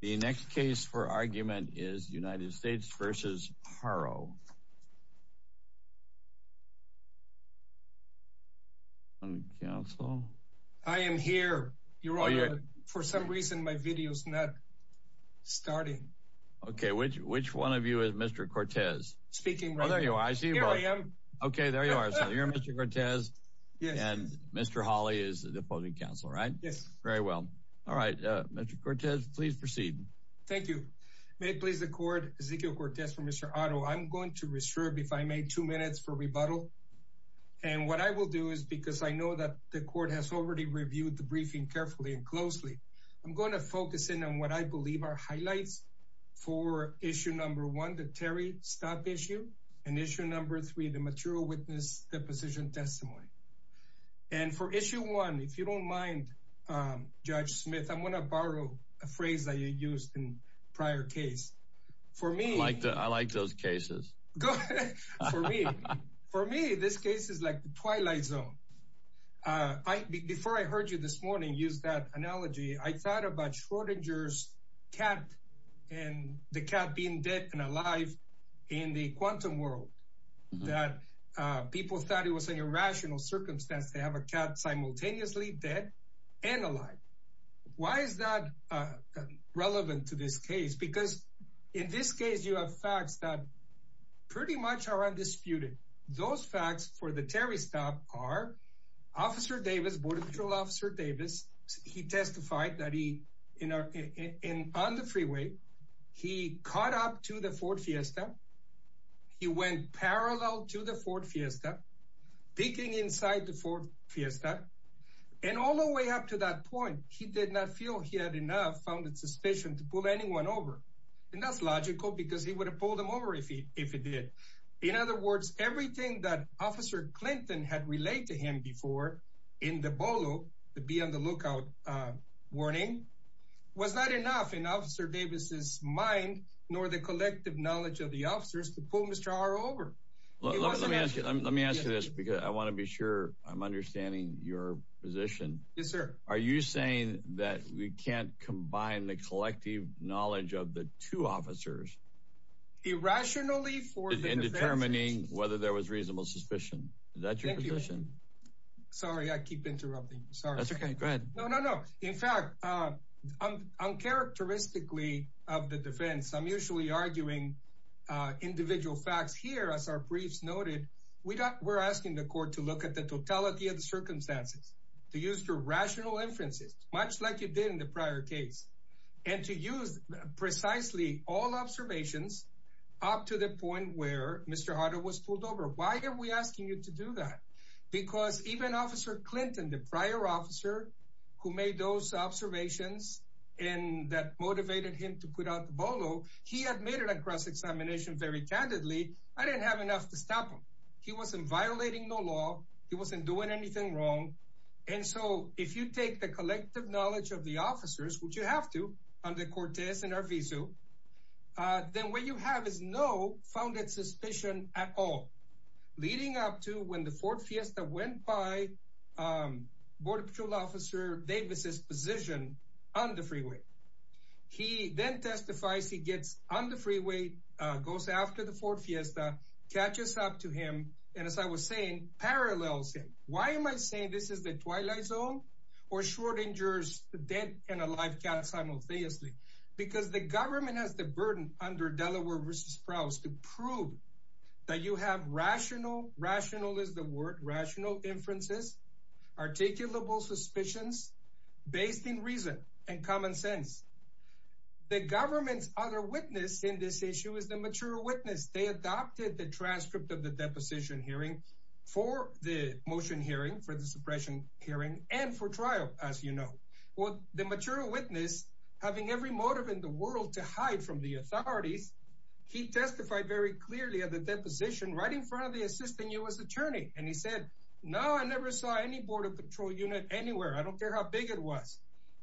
The next case for argument is United States v. Haro. I am here. Your Honor, for some reason my video is not starting. Okay, which one of you is Mr. Cortez? Speaking right now. Here I am. Okay, there you are. So you're Mr. Cortez. Yes. And Mr. Hawley is the opposing counsel, right? Yes. Very well. All right, Mr. Cortez, please proceed. Thank you. May it please the Court, Ezequiel Cortez for Mr. Haro. I'm going to reserve, if I may, two minutes for rebuttal. And what I will do is, because I know that the Court has already reviewed the briefing carefully and closely, I'm going to focus in on what I believe are highlights for Issue No. 1, the Terry Stop Issue, and Issue No. 3, the Material Witness Deposition Testimony. And for Issue 1, if you don't mind, Judge Smith, I'm going to borrow a phrase that you used in prior case. I like those cases. For me, this case is like the Twilight Zone. Before I heard you this morning use that analogy, I thought about Schrodinger's cat and the cat being dead and alive in the quantum world. People thought it was an irrational circumstance to have a cat simultaneously dead and alive. Why is that relevant to this case? Because in this case, you have facts that pretty much are undisputed. Those facts for the Terry Stop are Officer Davis, Border Patrol Officer Davis, he testified that on the freeway, he caught up to the Ford Fiesta. He went parallel to the Ford Fiesta, peeking inside the Ford Fiesta. And all the way up to that point, he did not feel he had enough, found it suspicious to pull anyone over. And that's logical because he would have pulled them over if he did. In other words, everything that Officer Clinton had relayed to him before in the BOLO, the Be On The Lookout warning, was not enough in Officer Davis's mind nor the collective knowledge of the officers to pull Mr. R over. Let me ask you this because I want to be sure I'm understanding your position. Yes, sir. Are you saying that we can't combine the collective knowledge of the two officers? Irrationally for the defense. In determining whether there was reasonable suspicion. Is that your position? Sorry, I keep interrupting. Sorry. That's okay. Go ahead. No, no, no. In fact, uncharacteristically of the defense, I'm usually arguing individual facts. Here, as our briefs noted, we're asking the court to look at the totality of the circumstances. To use the rational inferences, much like you did in the prior case. And to use precisely all observations up to the point where Mr. Harder was pulled over. Why are we asking you to do that? Because even Officer Clinton, the prior officer who made those observations. And that motivated him to put out the bolo. He admitted across examination very candidly. I didn't have enough to stop him. He wasn't violating the law. He wasn't doing anything wrong. And so, if you take the collective knowledge of the officers, which you have to, under Cortez and Arvizu. Then what you have is no founded suspicion at all. Leading up to when the fourth fiesta went by Border Patrol Officer Davis' position on the freeway. He then testifies. He gets on the freeway. Goes after the fourth fiesta. Catches up to him. And as I was saying, parallels him. Why am I saying this is the twilight zone? Or Schrodinger's dead and alive cat simultaneously? Because the government has the burden under Delaware v. Sprouse to prove that you have rational. Rational is the word. Rational inferences. Articulable suspicions. Based in reason and common sense. The government's other witness in this issue is the mature witness. They adopted the transcript of the deposition hearing for the motion hearing. For the suppression hearing. And for trial, as you know. Well, the mature witness, having every motive in the world to hide from the authorities. He testified very clearly at the deposition right in front of the assistant U.S. attorney. And he said, no, I never saw any Border Patrol unit anywhere. I don't care how big it was.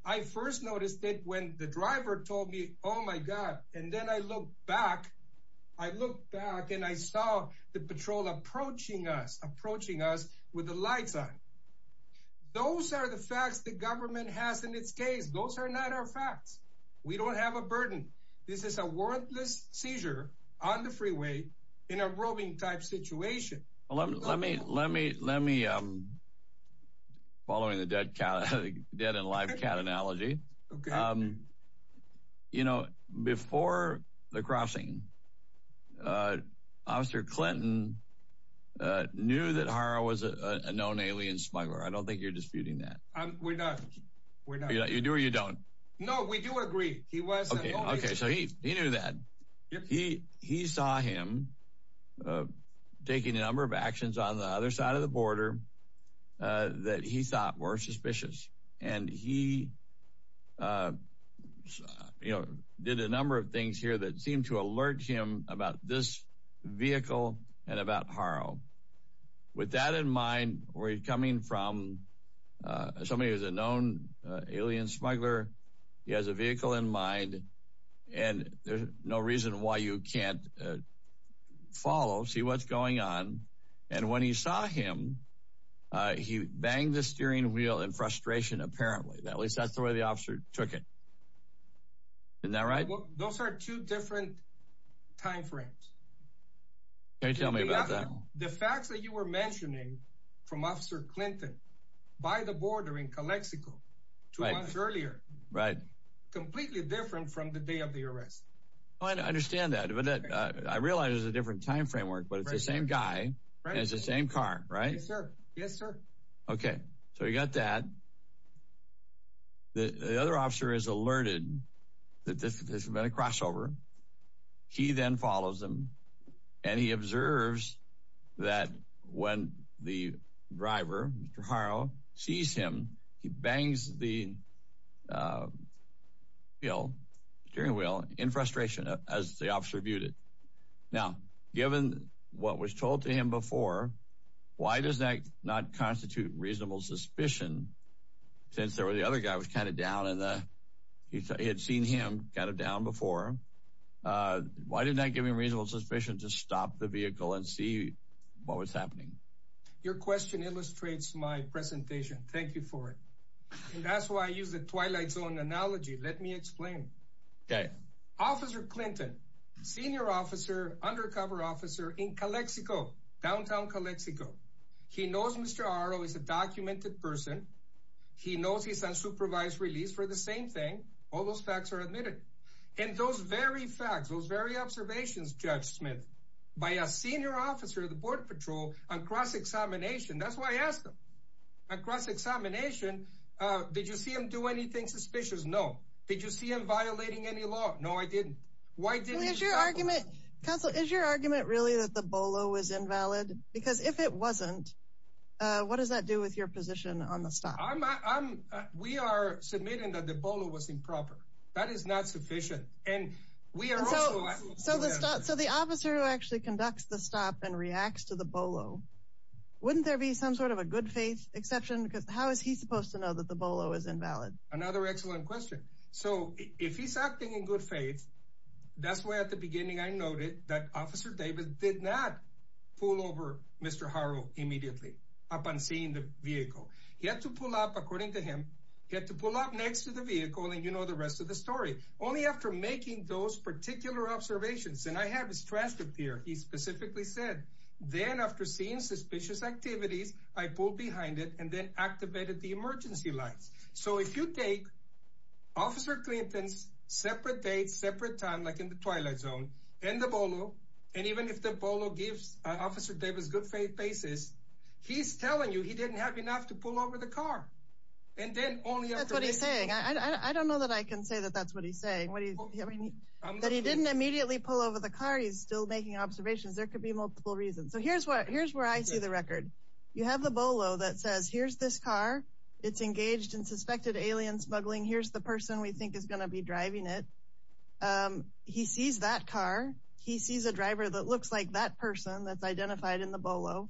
I first noticed it when the driver told me, oh, my God. And then I looked back. I looked back and I saw the patrol approaching us. Approaching us with the lights on. Those are the facts the government has in its case. Those are not our facts. We don't have a burden. This is a warrantless seizure on the freeway in a robbing type situation. Let me, let me, let me, following the dead cat, dead and alive cat analogy. You know, before the crossing, Officer Clinton knew that Hara was a known alien smuggler. I don't think you're disputing that. We're not. You do or you don't. No, we do agree. He was. Okay. So he, he knew that. He, he saw him taking a number of actions on the other side of the border that he thought were suspicious. And he, you know, did a number of things here that seemed to alert him about this vehicle and about Hara. With that in mind, we're coming from somebody who's a known alien smuggler. He has a vehicle in mind. And there's no reason why you can't follow, see what's going on. And when he saw him, he banged the steering wheel in frustration, apparently. At least that's the way the officer took it. Isn't that right? Those are two different timeframes. Can you tell me about that? The facts that you were mentioning from Officer Clinton by the border in Calexico two months earlier. Right. Completely different from the day of the arrest. I understand that. I realize it's a different time framework, but it's the same guy and it's the same car, right? Yes, sir. Yes, sir. Okay. So you got that. The other officer is alerted that this has been a crossover. He then follows him. And he observes that when the driver, Mr. Haro, sees him, he bangs the wheel, steering wheel, in frustration. As the officer viewed it. Now, given what was told to him before, why does that not constitute reasonable suspicion? Since the other guy was kind of down and he had seen him kind of down before. Why didn't that give him reasonable suspicion to stop the vehicle and see what was happening? Your question illustrates my presentation. Thank you for it. And that's why I used the Twilight Zone analogy. Let me explain. Okay. Officer Clinton, senior officer, undercover officer in Calexico, downtown Calexico. He knows Mr. Haro is a documented person. He knows he's on supervised release for the same thing. All those facts are admitted. And those very facts, those very observations, Judge Smith, by a senior officer of the Border Patrol on cross-examination. That's why I asked him. On cross-examination, did you see him do anything suspicious? No. Did you see him violating any law? No, I didn't. Why didn't he stop him? Counsel, is your argument really that the Bolo was invalid? Because if it wasn't, what does that do with your position on the stop? We are submitting that the Bolo was improper. That is not sufficient. So the officer who actually conducts the stop and reacts to the Bolo, wouldn't there be some sort of a good faith exception? Because how is he supposed to know that the Bolo is invalid? Another excellent question. So if he's acting in good faith, that's why at the beginning I noted that Officer Davis did not pull over Mr. Haro immediately upon seeing the vehicle. He had to pull up, according to him, he had to pull up next to the vehicle, and you know the rest of the story. Only after making those particular observations, and I have his transcript here, he specifically said, then after seeing suspicious activities, I pulled behind it and then activated the emergency lights. So if you take Officer Clinton's separate date, separate time, like in the Twilight Zone, and the Bolo, and even if the Bolo gives Officer Davis good faith basis, he's telling you he didn't have enough to pull over the car. That's what he's saying. I don't know that I can say that that's what he's saying. That he didn't immediately pull over the car, he's still making observations. There could be multiple reasons. So here's where I see the record. You have the Bolo that says, here's this car. It's engaged in suspected alien smuggling. Here's the person we think is going to be driving it. He sees that car. He sees a driver that looks like that person that's identified in the Bolo.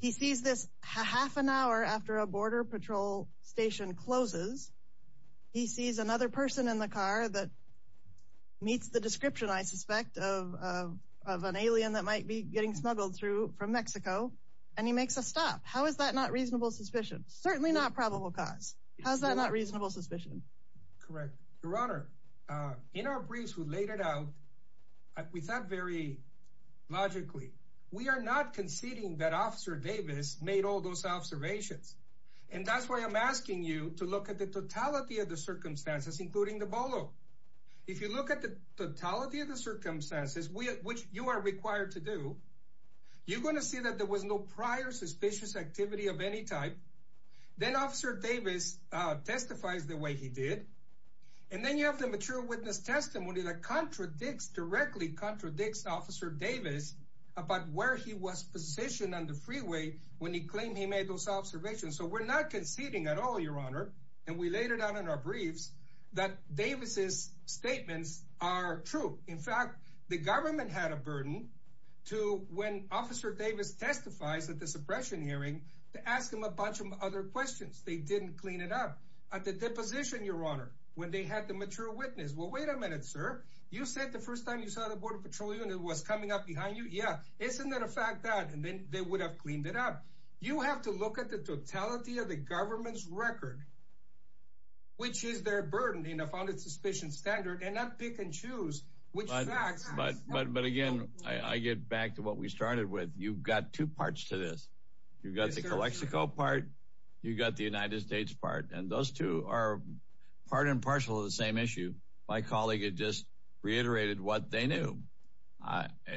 He sees this half an hour after a border patrol station closes. He sees another person in the car that meets the description, I suspect, of an alien that might be getting smuggled from Mexico. And he makes a stop. How is that not reasonable suspicion? Certainly not probable cause. How is that not reasonable suspicion? Correct. Your Honor, in our briefs we laid it out, we thought very logically. We are not conceding that Officer Davis made all those observations. And that's why I'm asking you to look at the totality of the circumstances, including the Bolo. If you look at the totality of the circumstances, which you are required to do, you're going to see that there was no prior suspicious activity of any type. Then Officer Davis testifies the way he did. And then you have the mature witness testimony that directly contradicts Officer Davis about where he was positioned on the freeway when he claimed he made those observations. So we're not conceding at all, Your Honor. And we laid it out in our briefs that Davis' statements are true. In fact, the government had a burden to, when Officer Davis testifies at the suppression hearing, to ask him a bunch of other questions. They didn't clean it up. At the deposition, Your Honor, when they had the mature witness, well, wait a minute, sir. You said the first time you saw the Border Patrol unit was coming up behind you? Yeah. Isn't that a fact then? And then they would have cleaned it up. You have to look at the totality of the government's record, which is their burden in a founded suspicion standard, and not pick and choose which facts. But again, I get back to what we started with. You've got two parts to this. You've got the Calexico part. You've got the United States part. And those two are part and parcel of the same issue. My colleague had just reiterated what they knew.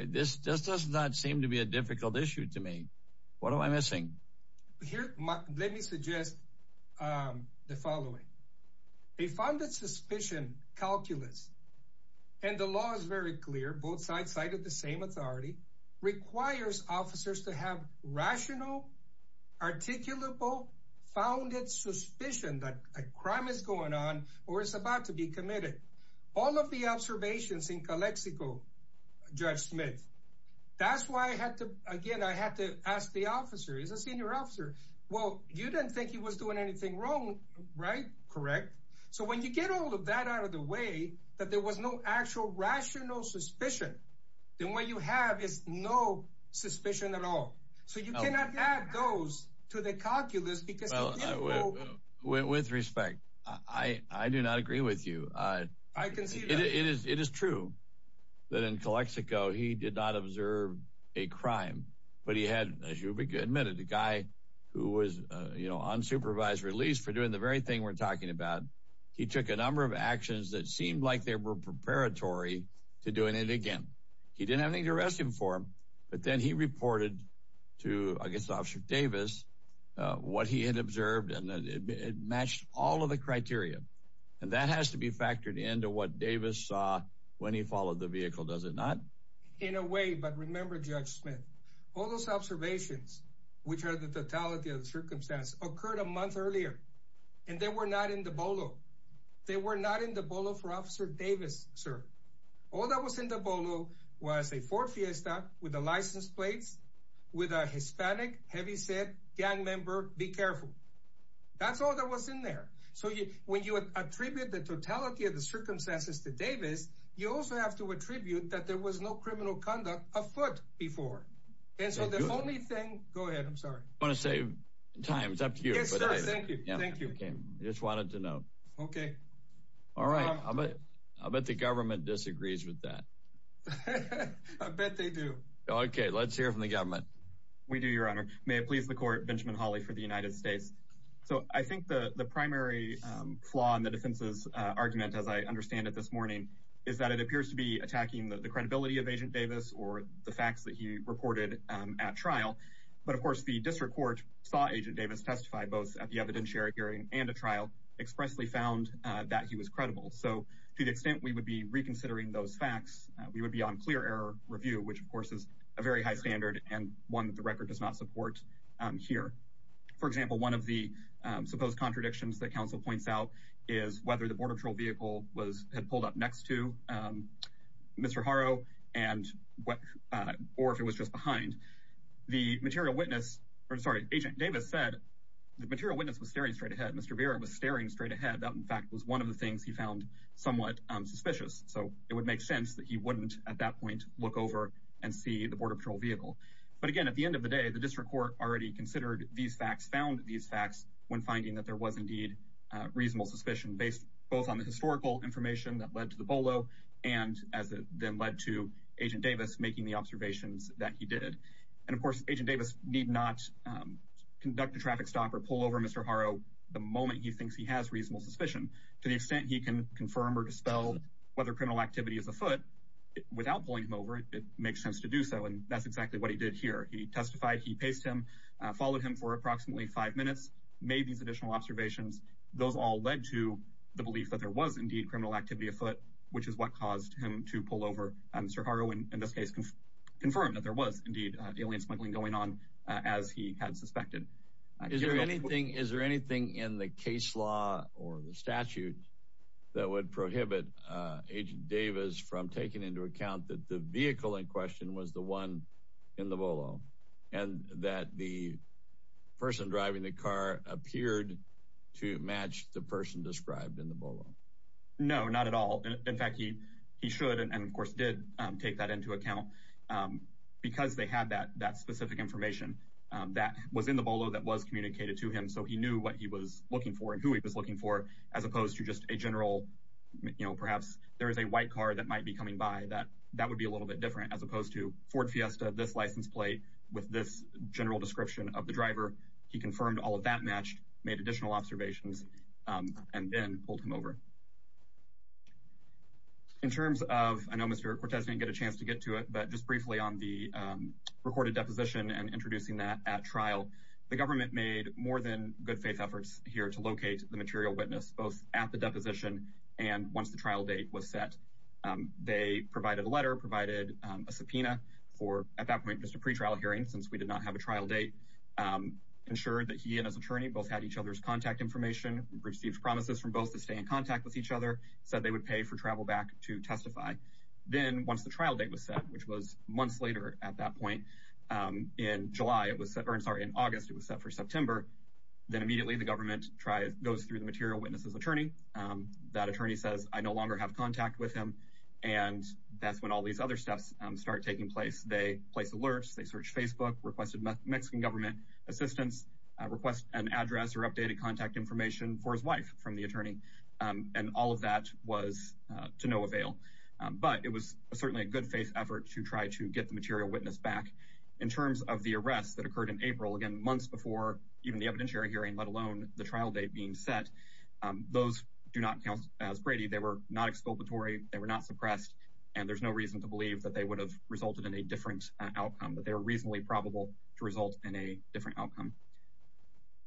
This does not seem to be a difficult issue to me. What am I missing? Here, let me suggest the following. A founded suspicion calculus, and the law is very clear, both sides cited the same authority, requires officers to have rational, articulable, founded suspicion that a crime is going on or is about to be committed. All of the observations in Calexico, Judge Smith, that's why I had to, again, I had to ask the officer. He's a senior officer. Well, you didn't think he was doing anything wrong, right? Correct. So when you get all of that out of the way, that there was no actual rational suspicion, then what you have is no suspicion at all. So you cannot add those to the calculus because you didn't know. With respect, I do not agree with you. I can see that. It is true that in Calexico he did not observe a crime, but he had, as you admitted, a guy who was, you know, unsupervised release for doing the very thing we're talking about. He took a number of actions that seemed like they were preparatory to doing it again. He didn't have anything to arrest him for. But then he reported to, I guess, Officer Davis what he had observed. And it matched all of the criteria. And that has to be factored into what Davis saw when he followed the vehicle, does it not? In a way. But remember, Judge Smith, all those observations, which are the totality of the circumstance, occurred a month earlier. And they were not in the Bolo. They were not in the Bolo for Officer Davis, sir. All that was in the Bolo was a Ford Fiesta with the license plates, with a Hispanic heavyset gang member. Be careful. That's all that was in there. So when you attribute the totality of the circumstances to Davis, you also have to attribute that there was no criminal conduct afoot before. And so the only thing. Go ahead. I'm sorry. I want to save time. It's up to you. Yes, sir. Thank you. Thank you. I just wanted to know. Okay. All right. I bet the government disagrees with that. I bet they do. Okay. Let's hear from the government. We do, Your Honor. May it please the Court, Benjamin Hawley for the United States. So I think the primary flaw in the defense's argument, as I understand it this morning, is that it appears to be attacking the credibility of Agent Davis or the facts that he reported at trial. But, of course, the district court saw Agent Davis testify both at the evidentiary hearing and at trial, expressly found that he was credible. So to the extent we would be reconsidering those facts, we would be on clear error review, which, of course, is a very high standard and one that the record does not support here. For example, one of the supposed contradictions that counsel points out is whether the Border Patrol vehicle had pulled up next to Mr. Haro or if it was just behind. Agent Davis said the material witness was staring straight ahead. Mr. Vera was staring straight ahead. That, in fact, was one of the things he found somewhat suspicious. So it would make sense that he wouldn't at that point look over and see the Border Patrol vehicle. But, again, at the end of the day, the district court already considered these facts, found these facts when finding that there was indeed reasonable suspicion based both on the historical information that led to the Bolo and as it then led to Agent Davis making the observations that he did. And, of course, Agent Davis need not conduct a traffic stop or pull over Mr. Haro the moment he thinks he has reasonable suspicion to the extent he can confirm or dispel whether criminal activity is afoot without pulling him over. It makes sense to do so, and that's exactly what he did here. He testified, he paced him, followed him for approximately five minutes, made these additional observations. Those all led to the belief that there was indeed criminal activity afoot, which is what caused him to pull over Mr. Haro and, in this case, confirm that there was indeed alien smuggling going on as he had suspected. Is there anything in the case law or the statute that would prohibit Agent Davis from taking into account that the vehicle in question was the one in the Bolo and that the person driving the car appeared to match the person described in the Bolo? No, not at all. In fact, he should and, of course, did take that into account because they had that specific information that was in the Bolo that was communicated to him, so he knew what he was looking for and who he was looking for as opposed to just a general, you know, perhaps there is a white car that might be coming by. That would be a little bit different as opposed to Ford Fiesta, this license plate with this general description of the driver. He confirmed all of that matched, made additional observations, and then pulled him over. In terms of, I know Mr. Cortez didn't get a chance to get to it, but just briefly on the recorded deposition and introducing that at trial, the government made more than good faith efforts here to locate the material witness, both at the deposition and once the trial date was set. They provided a letter, provided a subpoena for, at that point, just a pretrial hearing since we did not have a trial date, ensured that he and his attorney both had each other's contact information, received promises from both to stay in contact with each other, said they would pay for travel back to testify. Then, once the trial date was set, which was months later at that point, in August, it was set for September, then immediately the government goes through the material witness' attorney, that attorney says, I no longer have contact with him, and that's when all these other steps start taking place. They place alerts, they search Facebook, requested Mexican government assistance, request an address or updated contact information for his wife from the attorney, and all of that was to no avail. But it was certainly a good faith effort to try to get the material witness back. In terms of the arrests that occurred in April, again, months before even the evidentiary hearing, let alone the trial date being set, those do not count as Brady. They were not exculpatory, they were not suppressed, and there's no reason to believe that they would have resulted in a different outcome, that they were reasonably probable to result in a different outcome.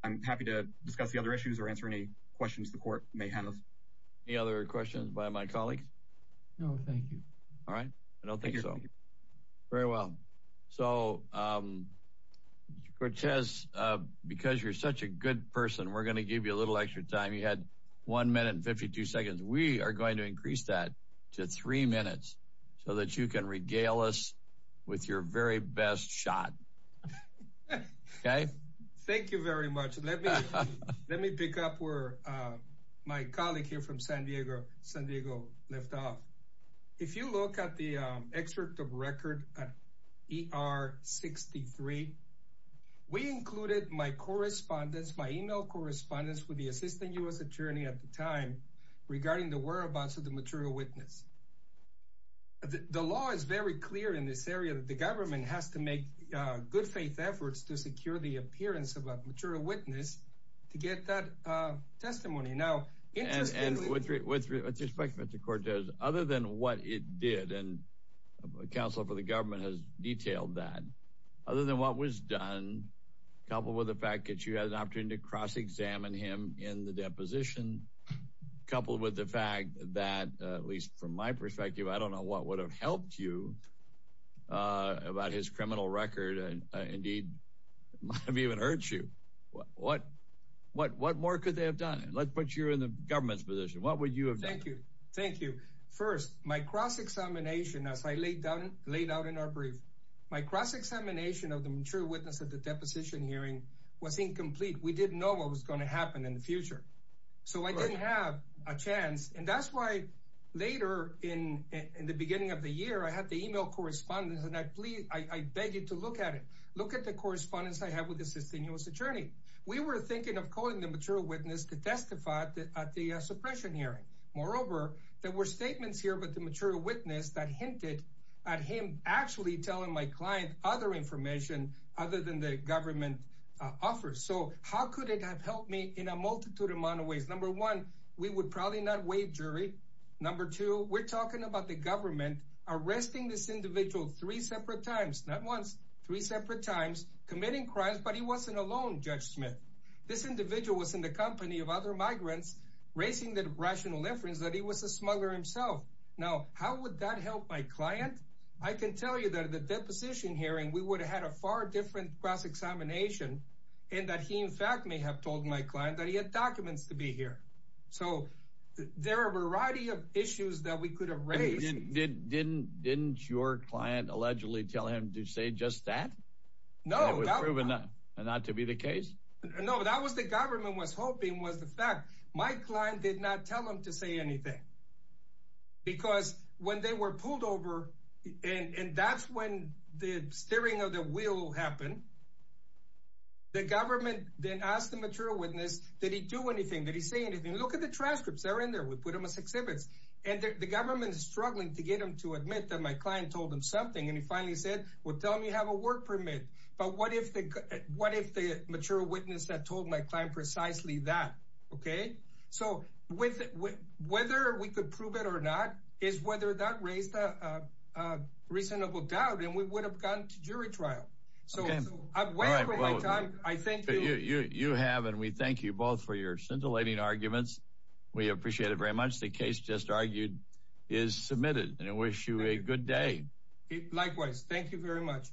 I'm happy to discuss the other issues or answer any questions the court may have. Any other questions by my colleague? No, thank you. All right. I don't think so. Thank you. Very well. So, Mr. Cortes, because you're such a good person, we're going to give you a little extra time. You had one minute and 52 seconds. We are going to increase that to three minutes so that you can regale us with your very best shot. Okay? Thank you very much. Let me pick up where my colleague here from San Diego left off. If you look at the excerpt of record ER63, we included my correspondence, my e-mail correspondence with the assistant U.S. attorney at the time regarding the whereabouts of the material witness. The law is very clear in this area that the government has to make good faith efforts to secure the appearance of a material witness to get that testimony. With respect, Mr. Cortes, other than what it did, and counsel for the government has detailed that, other than what was done, coupled with the fact that you had an opportunity to cross-examine him in the deposition, coupled with the fact that, at least from my perspective, I don't know what would have helped you about his criminal record and, indeed, might have even hurt you, what more could they have done? Let's put you in the government's position. What would you have done? Thank you. Thank you. First, my cross-examination, as I laid out in our brief, my cross-examination of the material witness at the deposition hearing was incomplete. We didn't know what was going to happen in the future. So I didn't have a chance, and that's why later in the beginning of the year, I had the e-mail correspondence, and I beg you to look at it. Look at the correspondence I have with the assistant U.S. attorney. We were thinking of calling the material witness to testify at the suppression hearing. Moreover, there were statements here about the material witness that hinted at him actually telling my client other information other than the government offers. So how could it have helped me in a multitude of ways? Number one, we would probably not waive jury. Number two, we're talking about the government arresting this individual three separate times, not once, three separate times, committing crimes, but he wasn't alone, Judge Smith. This individual was in the company of other migrants, raising the rational inference that he was a smuggler himself. Now, how would that help my client? I can tell you that at the deposition hearing, we would have had a far different cross-examination and that he, in fact, may have told my client that he had documents to be here. So there are a variety of issues that we could have raised. Didn't your client allegedly tell him to say just that? No. It was proven not to be the case? No, that was the government was hoping was the fact. My client did not tell him to say anything because when they were pulled over, and that's when the steering of the wheel happened, the government then asked the material witness, did he do anything? Did he say anything? Look at the transcripts. They're in there. We put them as exhibits. And the government is struggling to get him to admit that my client told him something. And he finally said, well, tell me you have a work permit. But what if the what if the mature witness that told my client precisely that? OK, so with whether we could prove it or not is whether that raised a reasonable doubt and we would have gone to jury trial. So I thank you. You have and we thank you both for your scintillating arguments. We appreciate it very much. The case just argued is submitted and I wish you a good day. Likewise. Thank you very much.